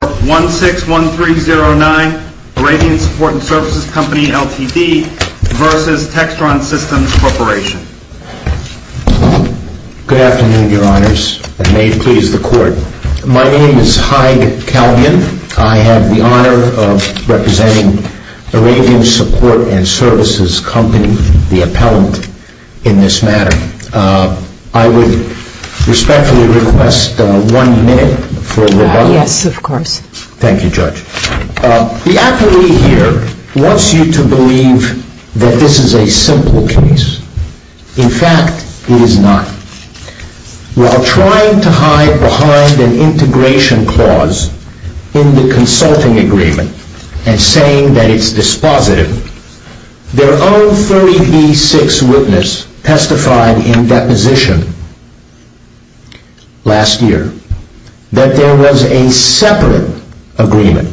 Good afternoon, Your Honors, and may it please the Court. My name is Hyde Calvin. I have the honor of representing Arabian Support & Services Company, the appellant in this matter. I would respectfully request one minute for rebuttal. The appellee here wants you to believe that this is a simple case. In fact, it is not. While trying to hide behind an integration clause in the consulting agreement and saying that it's dispositive, their own 30B6 witness testified in deposition. Last year, that there was a separate agreement,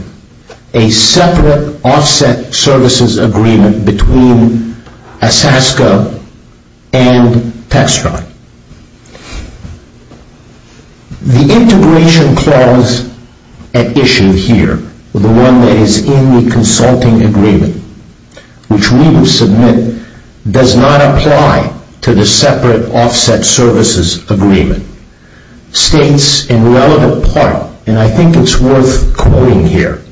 a separate offset services agreement between ASASCO and Textron. The integration clause at issue here, the one that is in the consulting agreement, which we will submit, does not apply to the separate offset services agreement. States, in relevant part, and I think it's worth quoting here,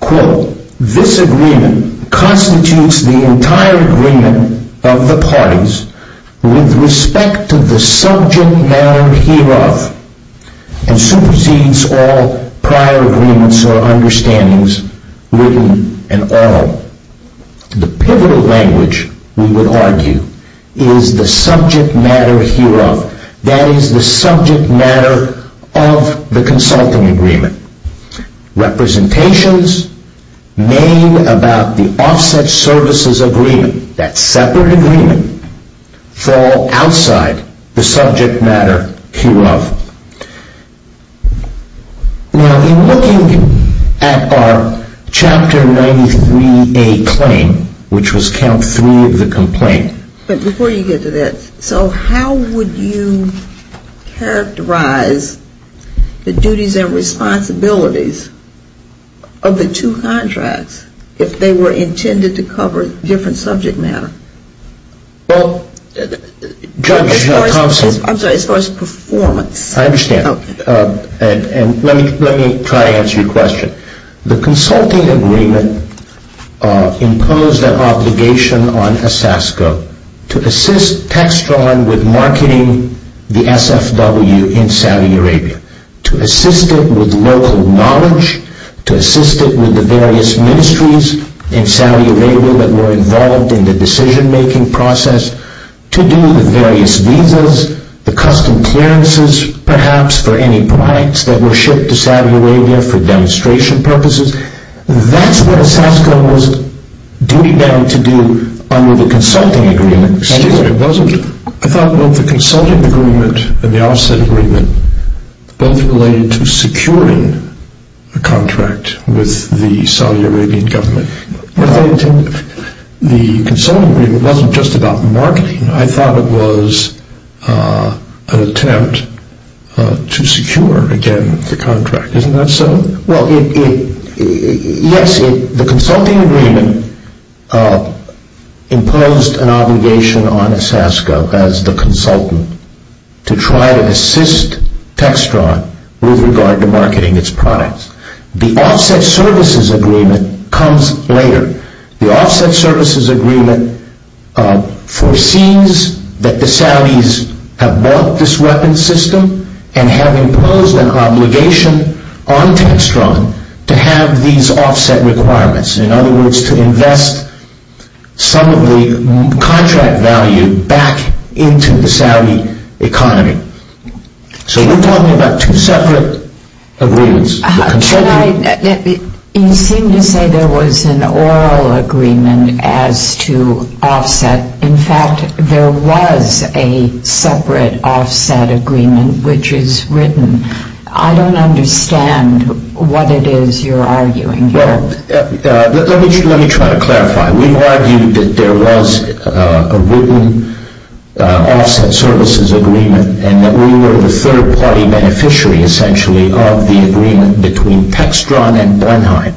quote, this agreement constitutes the entire agreement of the parties with respect to the subject matter hereof and supersedes all prior agreements or understandings written and oral. The pivotal language, we would argue, is the subject matter hereof. That is the subject matter of the consulting agreement. Representations made about the offset services agreement, that separate agreement, fall outside the subject matter hereof. Now, in looking at our chapter 93A claim, which was count three of the complaint. But before you get to that, so how would you characterize the duties and responsibilities of the two contracts if they were intended to cover different subject matter? Well, Judge Thompson. I'm sorry, as far as performance. I understand. And let me try to answer your question. The consulting agreement imposed an obligation on ASASCO to assist Textron with marketing the SFW in Saudi Arabia, to assist it with local knowledge, to assist it with the various ministries in Saudi Arabia that were involved in the decision making process, to do the various visas, the custom clearances, perhaps, for any products that were shipped to Saudi Arabia for demonstration purposes. That's what ASASCO was duty bound to do under the consulting agreement. Excuse me. I thought both the consulting agreement and the offset agreement both related to securing a contract with the Saudi Arabian government. The consulting agreement wasn't just about marketing. I thought it was an attempt to secure, again, the contract. Isn't that so? Well, yes, the consulting agreement imposed an obligation on ASASCO as the consultant to try to assist Textron with regard to marketing its products. The offset services agreement comes later. The offset services agreement foresees that the Saudis have bought this weapons system and have imposed an obligation on Textron to have these offset requirements. In other words, to invest some of the contract value back into the Saudi economy. So we're talking about two separate agreements. You seem to say there was an oral agreement as to offset. In fact, there was a separate offset agreement which is written. I don't understand what it is you're arguing here. Let me try to clarify. We've argued that there was a written offset services agreement and that we were the third party beneficiary, essentially, of the agreement between Textron and Blenheim.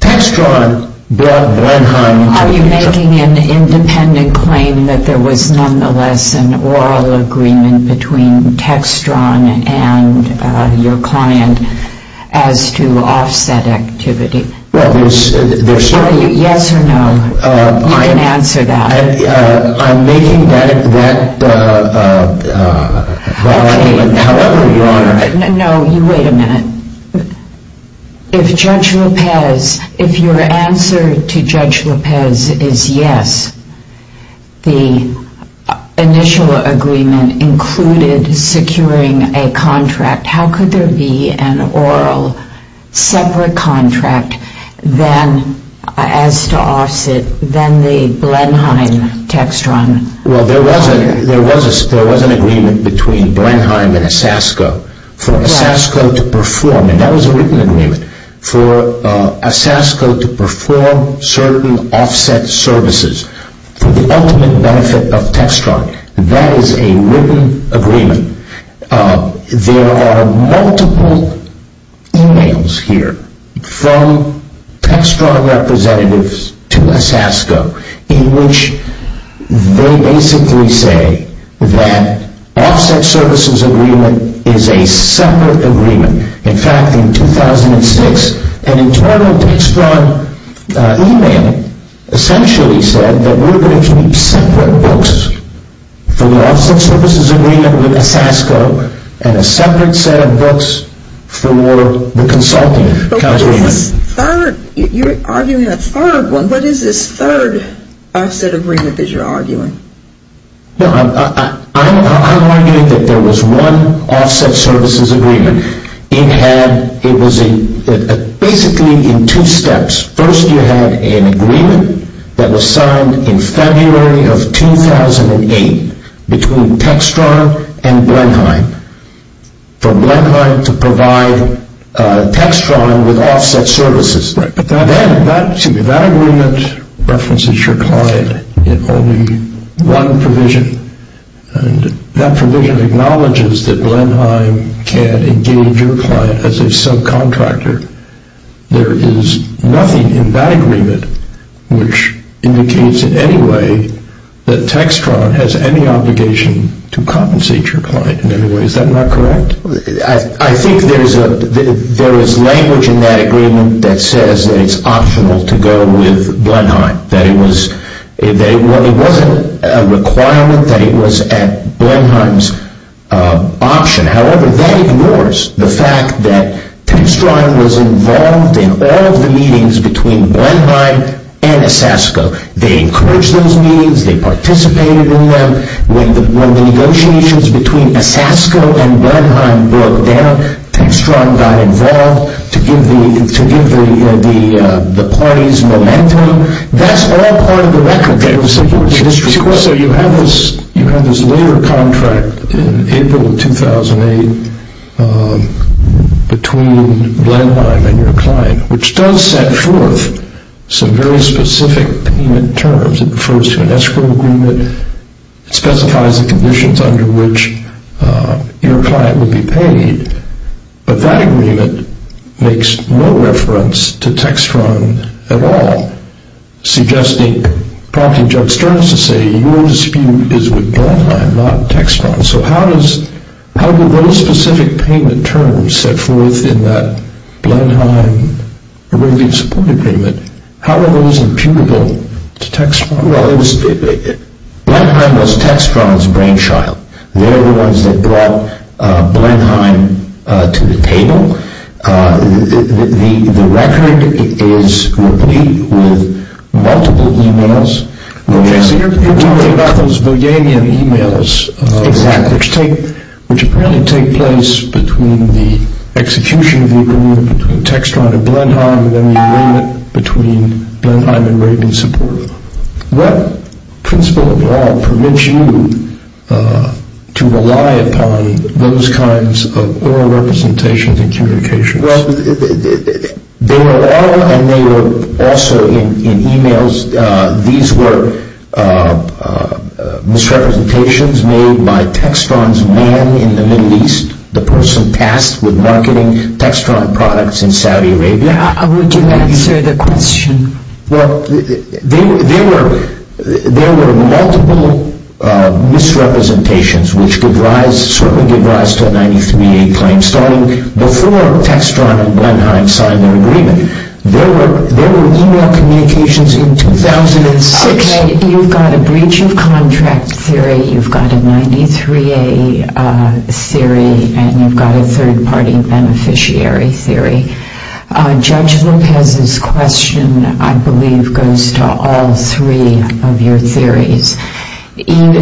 Textron brought Blenheim into the picture. Are you making an independent claim that there was nonetheless an oral agreement between Textron and your client as to offset activity? Well, there's... Yes or no? You can answer that. I'm making that argument however you want. No, you wait a minute. If Judge Lopez, if your answer to Judge Lopez is yes, the initial agreement included securing a contract, how could there be an oral separate contract then as to offset, then the Blenheim-Textron? Well, there was an agreement between Blenheim and Asasco for Asasco to perform, and that was a written agreement, for Asasco to perform certain offset services for the ultimate benefit of Textron. That is a written agreement. There are multiple emails here from Textron representatives to Asasco in which they basically say that offset services agreement is a separate agreement. In fact, in 2006, an internal Textron email essentially said that we're going to keep separate books for the offset services agreement with Asasco and a separate set of books for the consulting contract. You're arguing a third one. What is this third offset agreement that you're arguing? I'm arguing that there was one offset services agreement. It was basically in two steps. First, you had an agreement that was signed in February of 2008 between Textron and Blenheim for Blenheim to provide Textron with offset services. That agreement references your client in only one provision, and that provision acknowledges that Blenheim can engage your client as a subcontractor. There is nothing in that agreement which indicates in any way that Textron has any obligation to compensate your client in any way. Is that not correct? I think there is language in that agreement that says that it's optional to go with Blenheim. It wasn't a requirement that it was at Blenheim's option. However, that ignores the fact that Textron was involved in all of the meetings between Blenheim and Asasco. They encouraged those meetings. They participated in them. When the negotiations between Asasco and Blenheim broke down, Textron got involved to give the parties momentum. That's all part of the record. So you have this labor contract in April of 2008 between Blenheim and your client, which does set forth some very specific payment terms. It refers to an escrow agreement. It specifies the conditions under which your client will be paid. But that agreement makes no reference to Textron at all, suggesting, prompting Judge Stern to say, your dispute is with Blenheim, not Textron. So how do those specific payment terms set forth in that Blenheim-Arabian support agreement, how are those imputable to Textron? Well, Blenheim was Textron's brainchild. They're the ones that brought Blenheim to the table. The record is replete with multiple emails. So you're talking about those Bulganian emails, which apparently take place between the execution of the agreement between Textron and Blenheim and then the agreement between Blenheim and Arabian support. What principle of law permits you to rely upon those kinds of oral representations and communications? Well, they were oral and they were also in emails. These were misrepresentations made by Textron's man in the Middle East, the person tasked with marketing Textron products in Saudi Arabia. How would you answer the question? Well, there were multiple misrepresentations, which certainly gave rise to a 93-A claim, starting before Textron and Blenheim signed their agreement. There were email communications in 2006. You've got a breach of contract theory, you've got a 93-A theory, and you've got a third-party beneficiary theory. Judge Lopez's question, I believe, goes to all three of your theories. And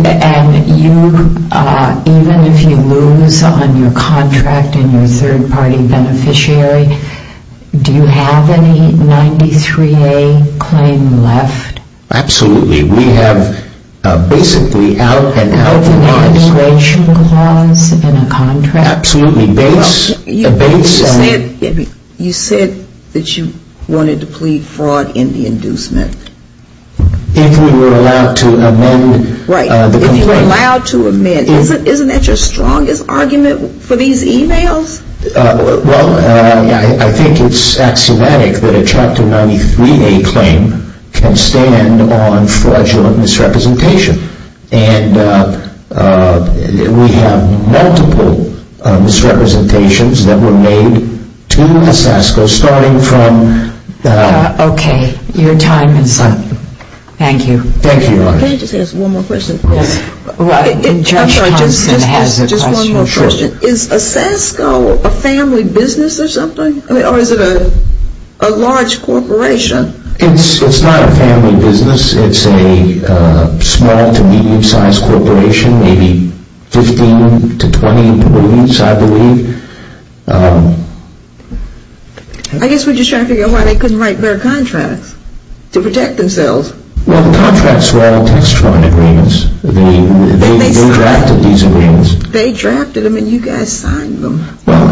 even if you lose on your contract and your third-party beneficiary, do you have any 93-A claim left? Absolutely. We have basically out-and-out laws. An integration clause in a contract? Absolutely. You said that you wanted to plead fraud in the inducement. If we were allowed to amend the complaint. Right, if you were allowed to amend. Isn't that your strongest argument for these emails? Well, I think it's axiomatic that a Chapter 93-A claim can stand on fraudulent misrepresentation. And we have multiple misrepresentations that were made to SASCO, starting from the- Okay, your time is up. Thank you. Thank you. Can I just ask one more question? Yes. Judge Thompson has a question. Just one more question. Sure. Is SASCO a family business or something? Or is it a large corporation? It's not a family business. It's a small-to-medium-sized corporation, maybe 15 to 20 employees, I believe. I guess we're just trying to figure out why they couldn't write better contracts, to protect themselves. Well, the contracts were all text-formed agreements. They drafted these agreements. They drafted them, and you guys signed them. Well,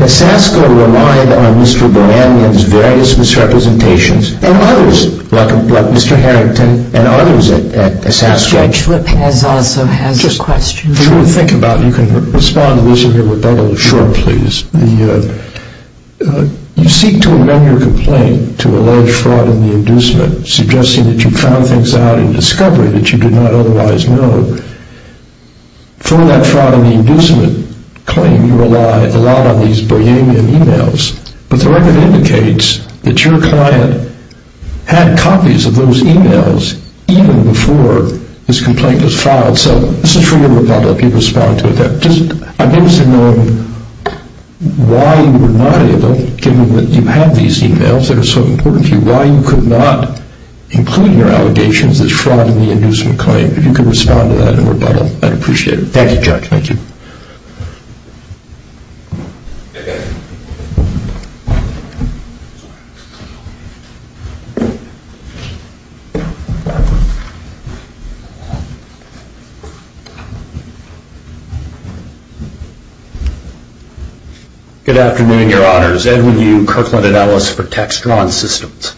and SASCO relied on Mr. Baranian's various misrepresentations, and others, like Mr. Harrington, and others at SASCO. Judge Flip has also has a question. Just for you to think about, you can respond to this in your rebuttal. Sure, please. You seek to amend your complaint to allege fraud in the inducement, suggesting that you found things out in discovery that you did not otherwise know. For that fraud in the inducement claim, you relied a lot on these Baranian emails. But the record indicates that your client had copies of those emails even before this complaint was filed. So this is for your rebuttal if you can respond to it. I'm interested in knowing why you were not able, given that you have these emails that are so important to you, why you could not include in your allegations this fraud in the inducement claim, if you could respond to that in rebuttal. I'd appreciate it. Thank you, Judge. Thank you. Thank you. Good afternoon, Your Honors. Edwin Yu, Kirkland Analyst for Textron Systems.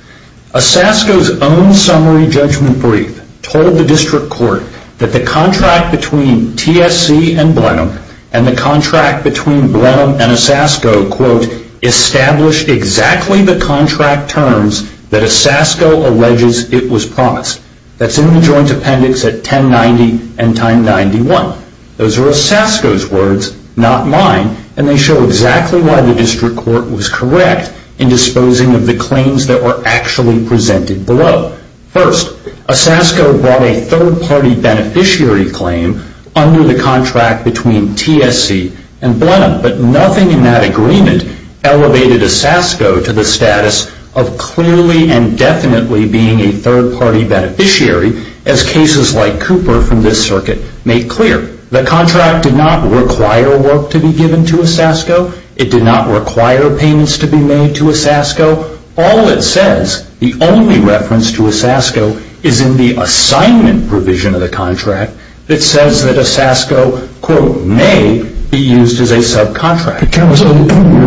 A SASCO's own summary judgment brief told the district court that the contract between TSC and Blenheim and the contract between Blenheim and a SASCO, quote, established exactly the contract terms that a SASCO alleges it was promised. That's in the joint appendix at 1090 and time 91. Those are a SASCO's words, not mine, and they show exactly why the district court was correct in disposing of the claims that were actually presented below. First, a SASCO brought a third-party beneficiary claim under the contract between TSC and Blenheim, but nothing in that agreement elevated a SASCO to the status of clearly and definitely being a third-party beneficiary, as cases like Cooper from this circuit made clear. The contract did not require work to be given to a SASCO. It did not require payments to be made to a SASCO. All it says, the only reference to a SASCO, is in the assignment provision of the contract that says that a SASCO, quote, may be used as a subcontract. The premise of the preamble in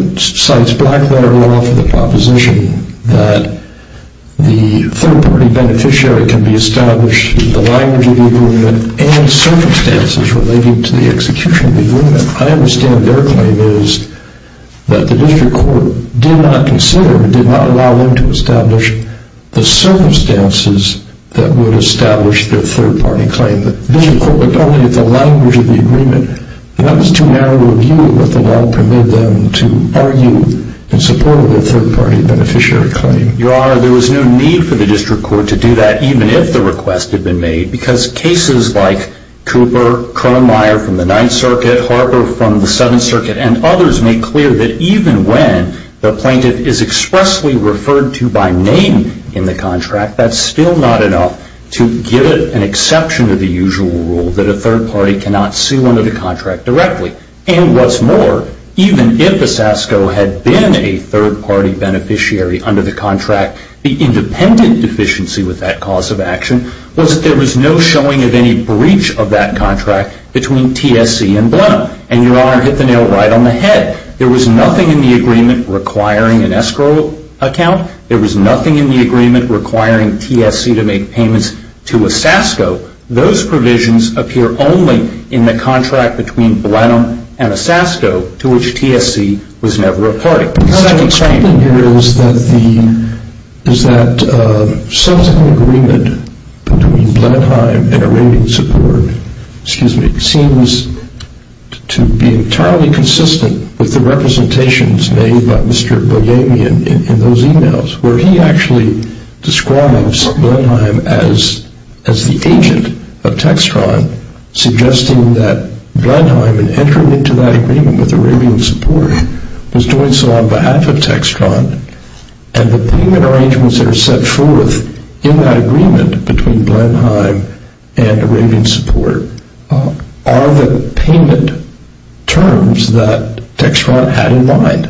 your point cites Blackwater Law for the proposition that the third-party beneficiary can be established in the language of the agreement and circumstances related to the execution of the agreement. I understand their claim is that the district court did not consider, did not allow them to establish the circumstances that would establish their third-party claim. The district court looked only at the language of the agreement. That was too narrow a view, but the law permitted them to argue in support of their third-party beneficiary claim. Your Honor, there was no need for the district court to do that, even if the request had been made, because cases like Cooper, Kronmeier from the Ninth Circuit, Harper from the Seventh Circuit, and others make clear that even when the plaintiff is expressly referred to by name in the contract, that's still not enough to give it an exception of the usual rule that a third-party cannot sue under the contract directly. And what's more, even if a SASCO had been a third-party beneficiary under the contract, the independent deficiency with that cause of action was that there was no showing of any breach of that contract between TSC and Blenheim. And Your Honor hit the nail right on the head. There was nothing in the agreement requiring an escrow account. There was nothing in the agreement requiring TSC to make payments to a SASCO. Those provisions appear only in the contract between Blenheim and a SASCO, to which TSC was never a party. What I'm claiming here is that the subsequent agreement between Blenheim and Arabian Support, excuse me, seems to be entirely consistent with the representations made by Mr. Boyavian in those emails, where he actually describes Blenheim as the agent of Textron, suggesting that Blenheim, in entering into that agreement with Arabian Support, was doing so on behalf of Textron, and the payment arrangements that are set forth in that agreement between Blenheim and Arabian Support are the payment terms that Textron had in mind.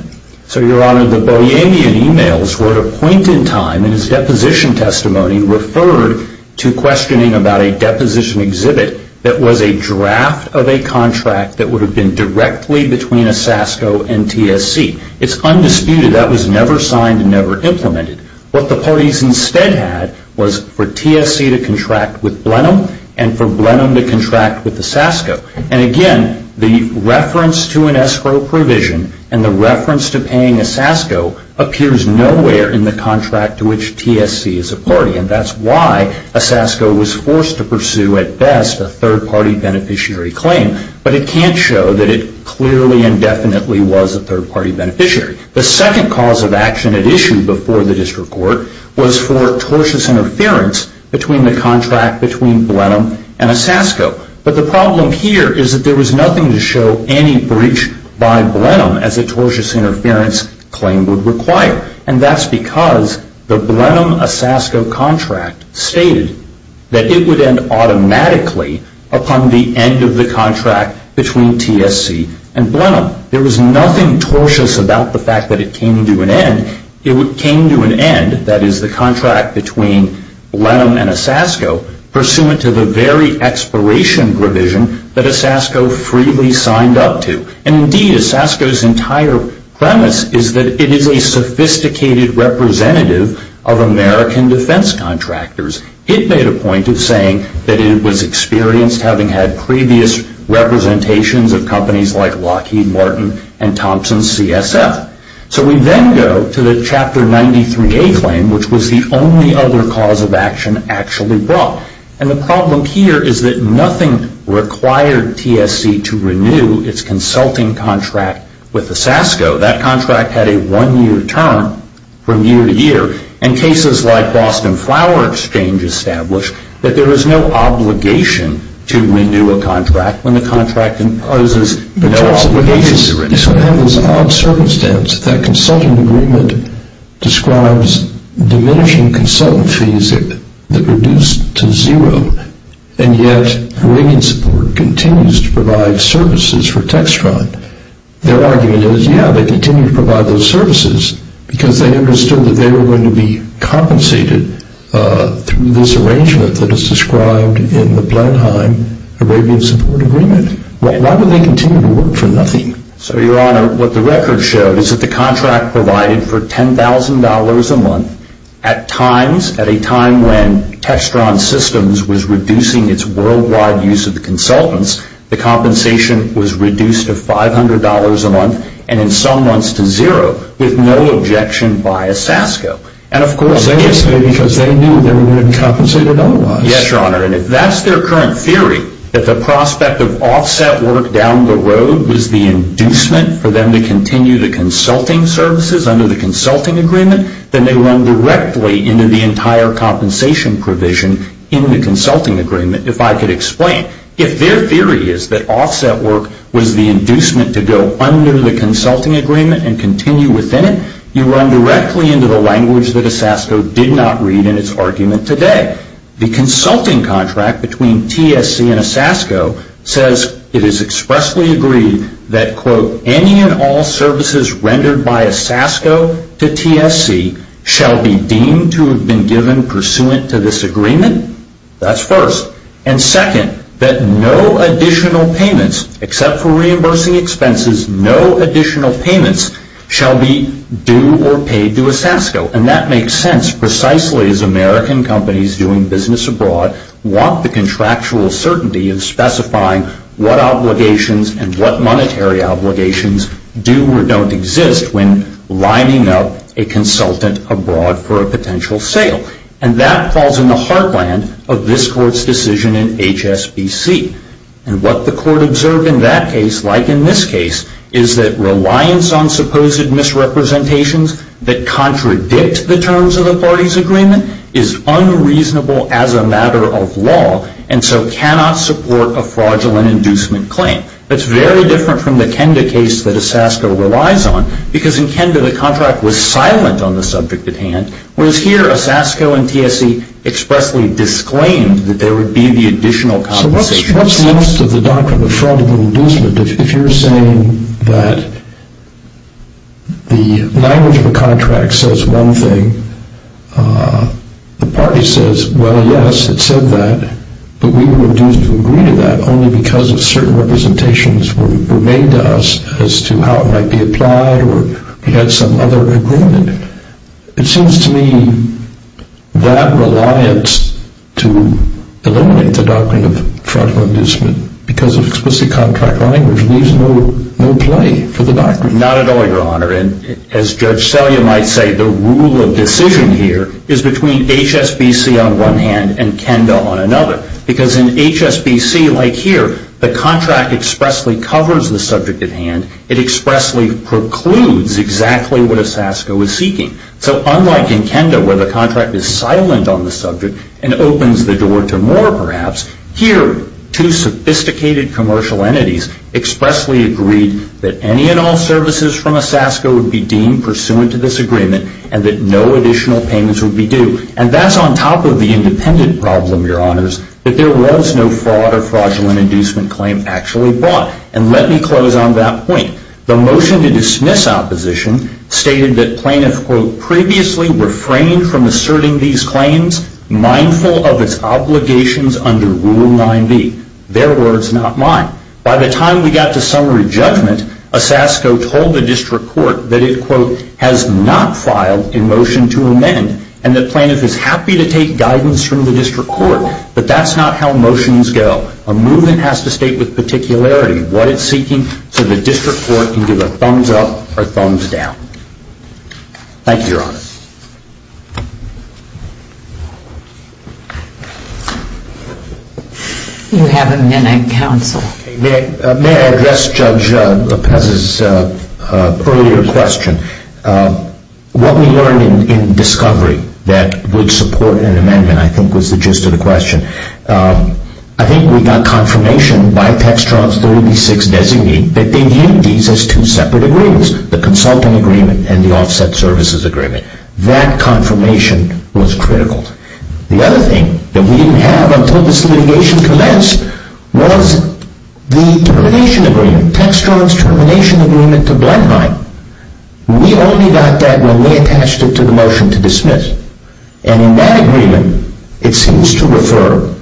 So, Your Honor, the Boyavian emails were, at a point in time in his deposition testimony, referred to questioning about a deposition exhibit that was a draft of a contract that would have been directly between a SASCO and TSC. It's undisputed that was never signed and never implemented. What the parties instead had was for TSC to contract with Blenheim, and for Blenheim to contract with the SASCO. And again, the reference to an escrow provision and the reference to paying a SASCO appears nowhere in the contract to which TSC is a party. And that's why a SASCO was forced to pursue, at best, a third-party beneficiary claim. But it can't show that it clearly and definitely was a third-party beneficiary. The second cause of action it issued before the district court was for tortious interference between the contract between Blenheim and a SASCO. But the problem here is that there was nothing to show any breach by Blenheim as a tortious interference claim would require. And that's because the Blenheim-a-SASCO contract stated that it would end automatically upon the end of the contract between TSC and Blenheim. There was nothing tortious about the fact that it came to an end. It came to an end, that is, the contract between Blenheim and a SASCO, pursuant to the very expiration provision that a SASCO freely signed up to. And indeed, a SASCO's entire premise is that it is a sophisticated representative of American defense contractors. It made a point of saying that it was experienced, having had previous representations of companies like Lockheed Martin and Thompson CSF. So we then go to the Chapter 93A claim, which was the only other cause of action actually brought. And the problem here is that nothing required TSC to renew its consulting contract with a SASCO. That contract had a one-year term from year to year. And cases like Boston Flower Exchange established that there was no obligation to renew a contract when the contract imposes no obligation to renew it. You sort of have this odd circumstance that that consulting agreement describes diminishing consultant fees that reduce to zero, and yet Arabian Support continues to provide services for Textron. Their argument is, yeah, they continue to provide those services because they understood that they were going to be compensated through this arrangement that is described in the Blenheim-Arabian Support agreement. Why would they continue to work for nothing? So, Your Honor, what the record showed is that the contract provided for $10,000 a month at times, at a time when Textron Systems was reducing its worldwide use of the consultants, the compensation was reduced to $500 a month, and in some months to zero, with no objection by a SASCO. Well, they did it because they knew they were going to be compensated otherwise. Yes, Your Honor, and if that's their current theory, that the prospect of offset work down the road was the inducement for them to continue the consulting services under the consulting agreement, then they run directly into the entire compensation provision in the consulting agreement, if I could explain. If their theory is that offset work was the inducement to go under the consulting agreement and continue within it, you run directly into the language that a SASCO did not read in its argument today. The consulting contract between TSC and a SASCO says it is expressly agreed that, quote, any and all services rendered by a SASCO to TSC shall be deemed to have been given pursuant to this agreement. That's first. And second, that no additional payments, except for reimbursing expenses, no additional payments shall be due or paid to a SASCO. And that makes sense precisely as American companies doing business abroad want the contractual certainty of specifying what obligations and what monetary obligations do or don't exist when lining up a consultant abroad for a potential sale. And that falls in the heartland of this Court's decision in HSBC. And what the Court observed in that case, like in this case, is that reliance on supposed misrepresentations that contradict the terms of the parties' agreement is unreasonable as a matter of law and so cannot support a fraudulent inducement claim. That's very different from the Kenda case that a SASCO relies on, because in Kenda the contract was silent on the subject at hand, whereas here a SASCO and TSC expressly disclaimed that there would be the additional compensation. What's the interest of the doctrine of fraudulent inducement if you're saying that the language of a contract says one thing, the party says, well, yes, it said that, but we were induced to agree to that only because of certain representations were made to us as to how it might be applied or we had some other agreement? It seems to me that reliance to eliminate the doctrine of fraudulent inducement because of explicit contract language leaves no play for the doctrine. Not at all, Your Honor. And as Judge Selya might say, the rule of decision here is between HSBC on one hand and Kenda on another, because in HSBC, like here, the contract expressly covers the subject at hand. It expressly precludes exactly what a SASCO is seeking. So unlike in Kenda, where the contract is silent on the subject and opens the door to more, perhaps, here two sophisticated commercial entities expressly agreed that any and all services from a SASCO would be deemed pursuant to this agreement and that no additional payments would be due. And that's on top of the independent problem, Your Honors, that there was no fraud or fraudulent inducement claim actually brought. And let me close on that point. The motion to dismiss opposition stated that plaintiff, quote, previously refrained from asserting these claims, mindful of its obligations under Rule 9b. Their words, not mine. By the time we got to summary judgment, a SASCO told the district court that it, quote, has not filed a motion to amend and the plaintiff is happy to take guidance from the district court. But that's not how motions go. A movement has to state with particularity what it's seeking so the district court can give a thumbs up or thumbs down. Thank you, Your Honors. You have a minute, Counsel. May I address Judge Lopez's earlier question? What we learned in discovery that would support an amendment, I think, was the gist of the question. I think we got confirmation by Textron's 36th designee that they viewed these as two separate agreements, the consulting agreement and the offset services agreement. That confirmation was critical. The other thing that we didn't have until this litigation commenced was the termination agreement, Textron's termination agreement to Blenheim. And in that agreement, it seems to refer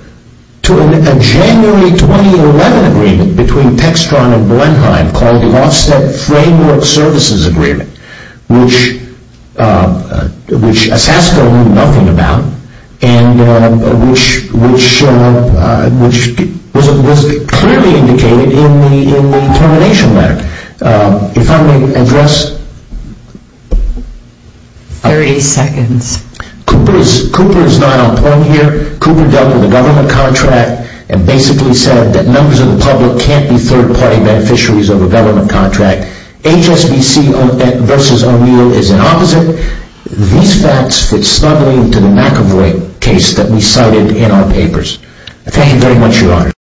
to a January 2011 agreement between Textron and Blenheim called the offset framework services agreement, which SASCO knew nothing about and which was clearly indicated in the termination letter. If I may address. 30 seconds. Cooper is not on point here. Cooper dealt with a government contract and basically said that members of the public can't be third-party beneficiaries of a government contract. HSBC versus O'Neill is an opposite. These facts fit snugly into the McEvoy case that we cited in our papers. Thank you very much, Your Honors.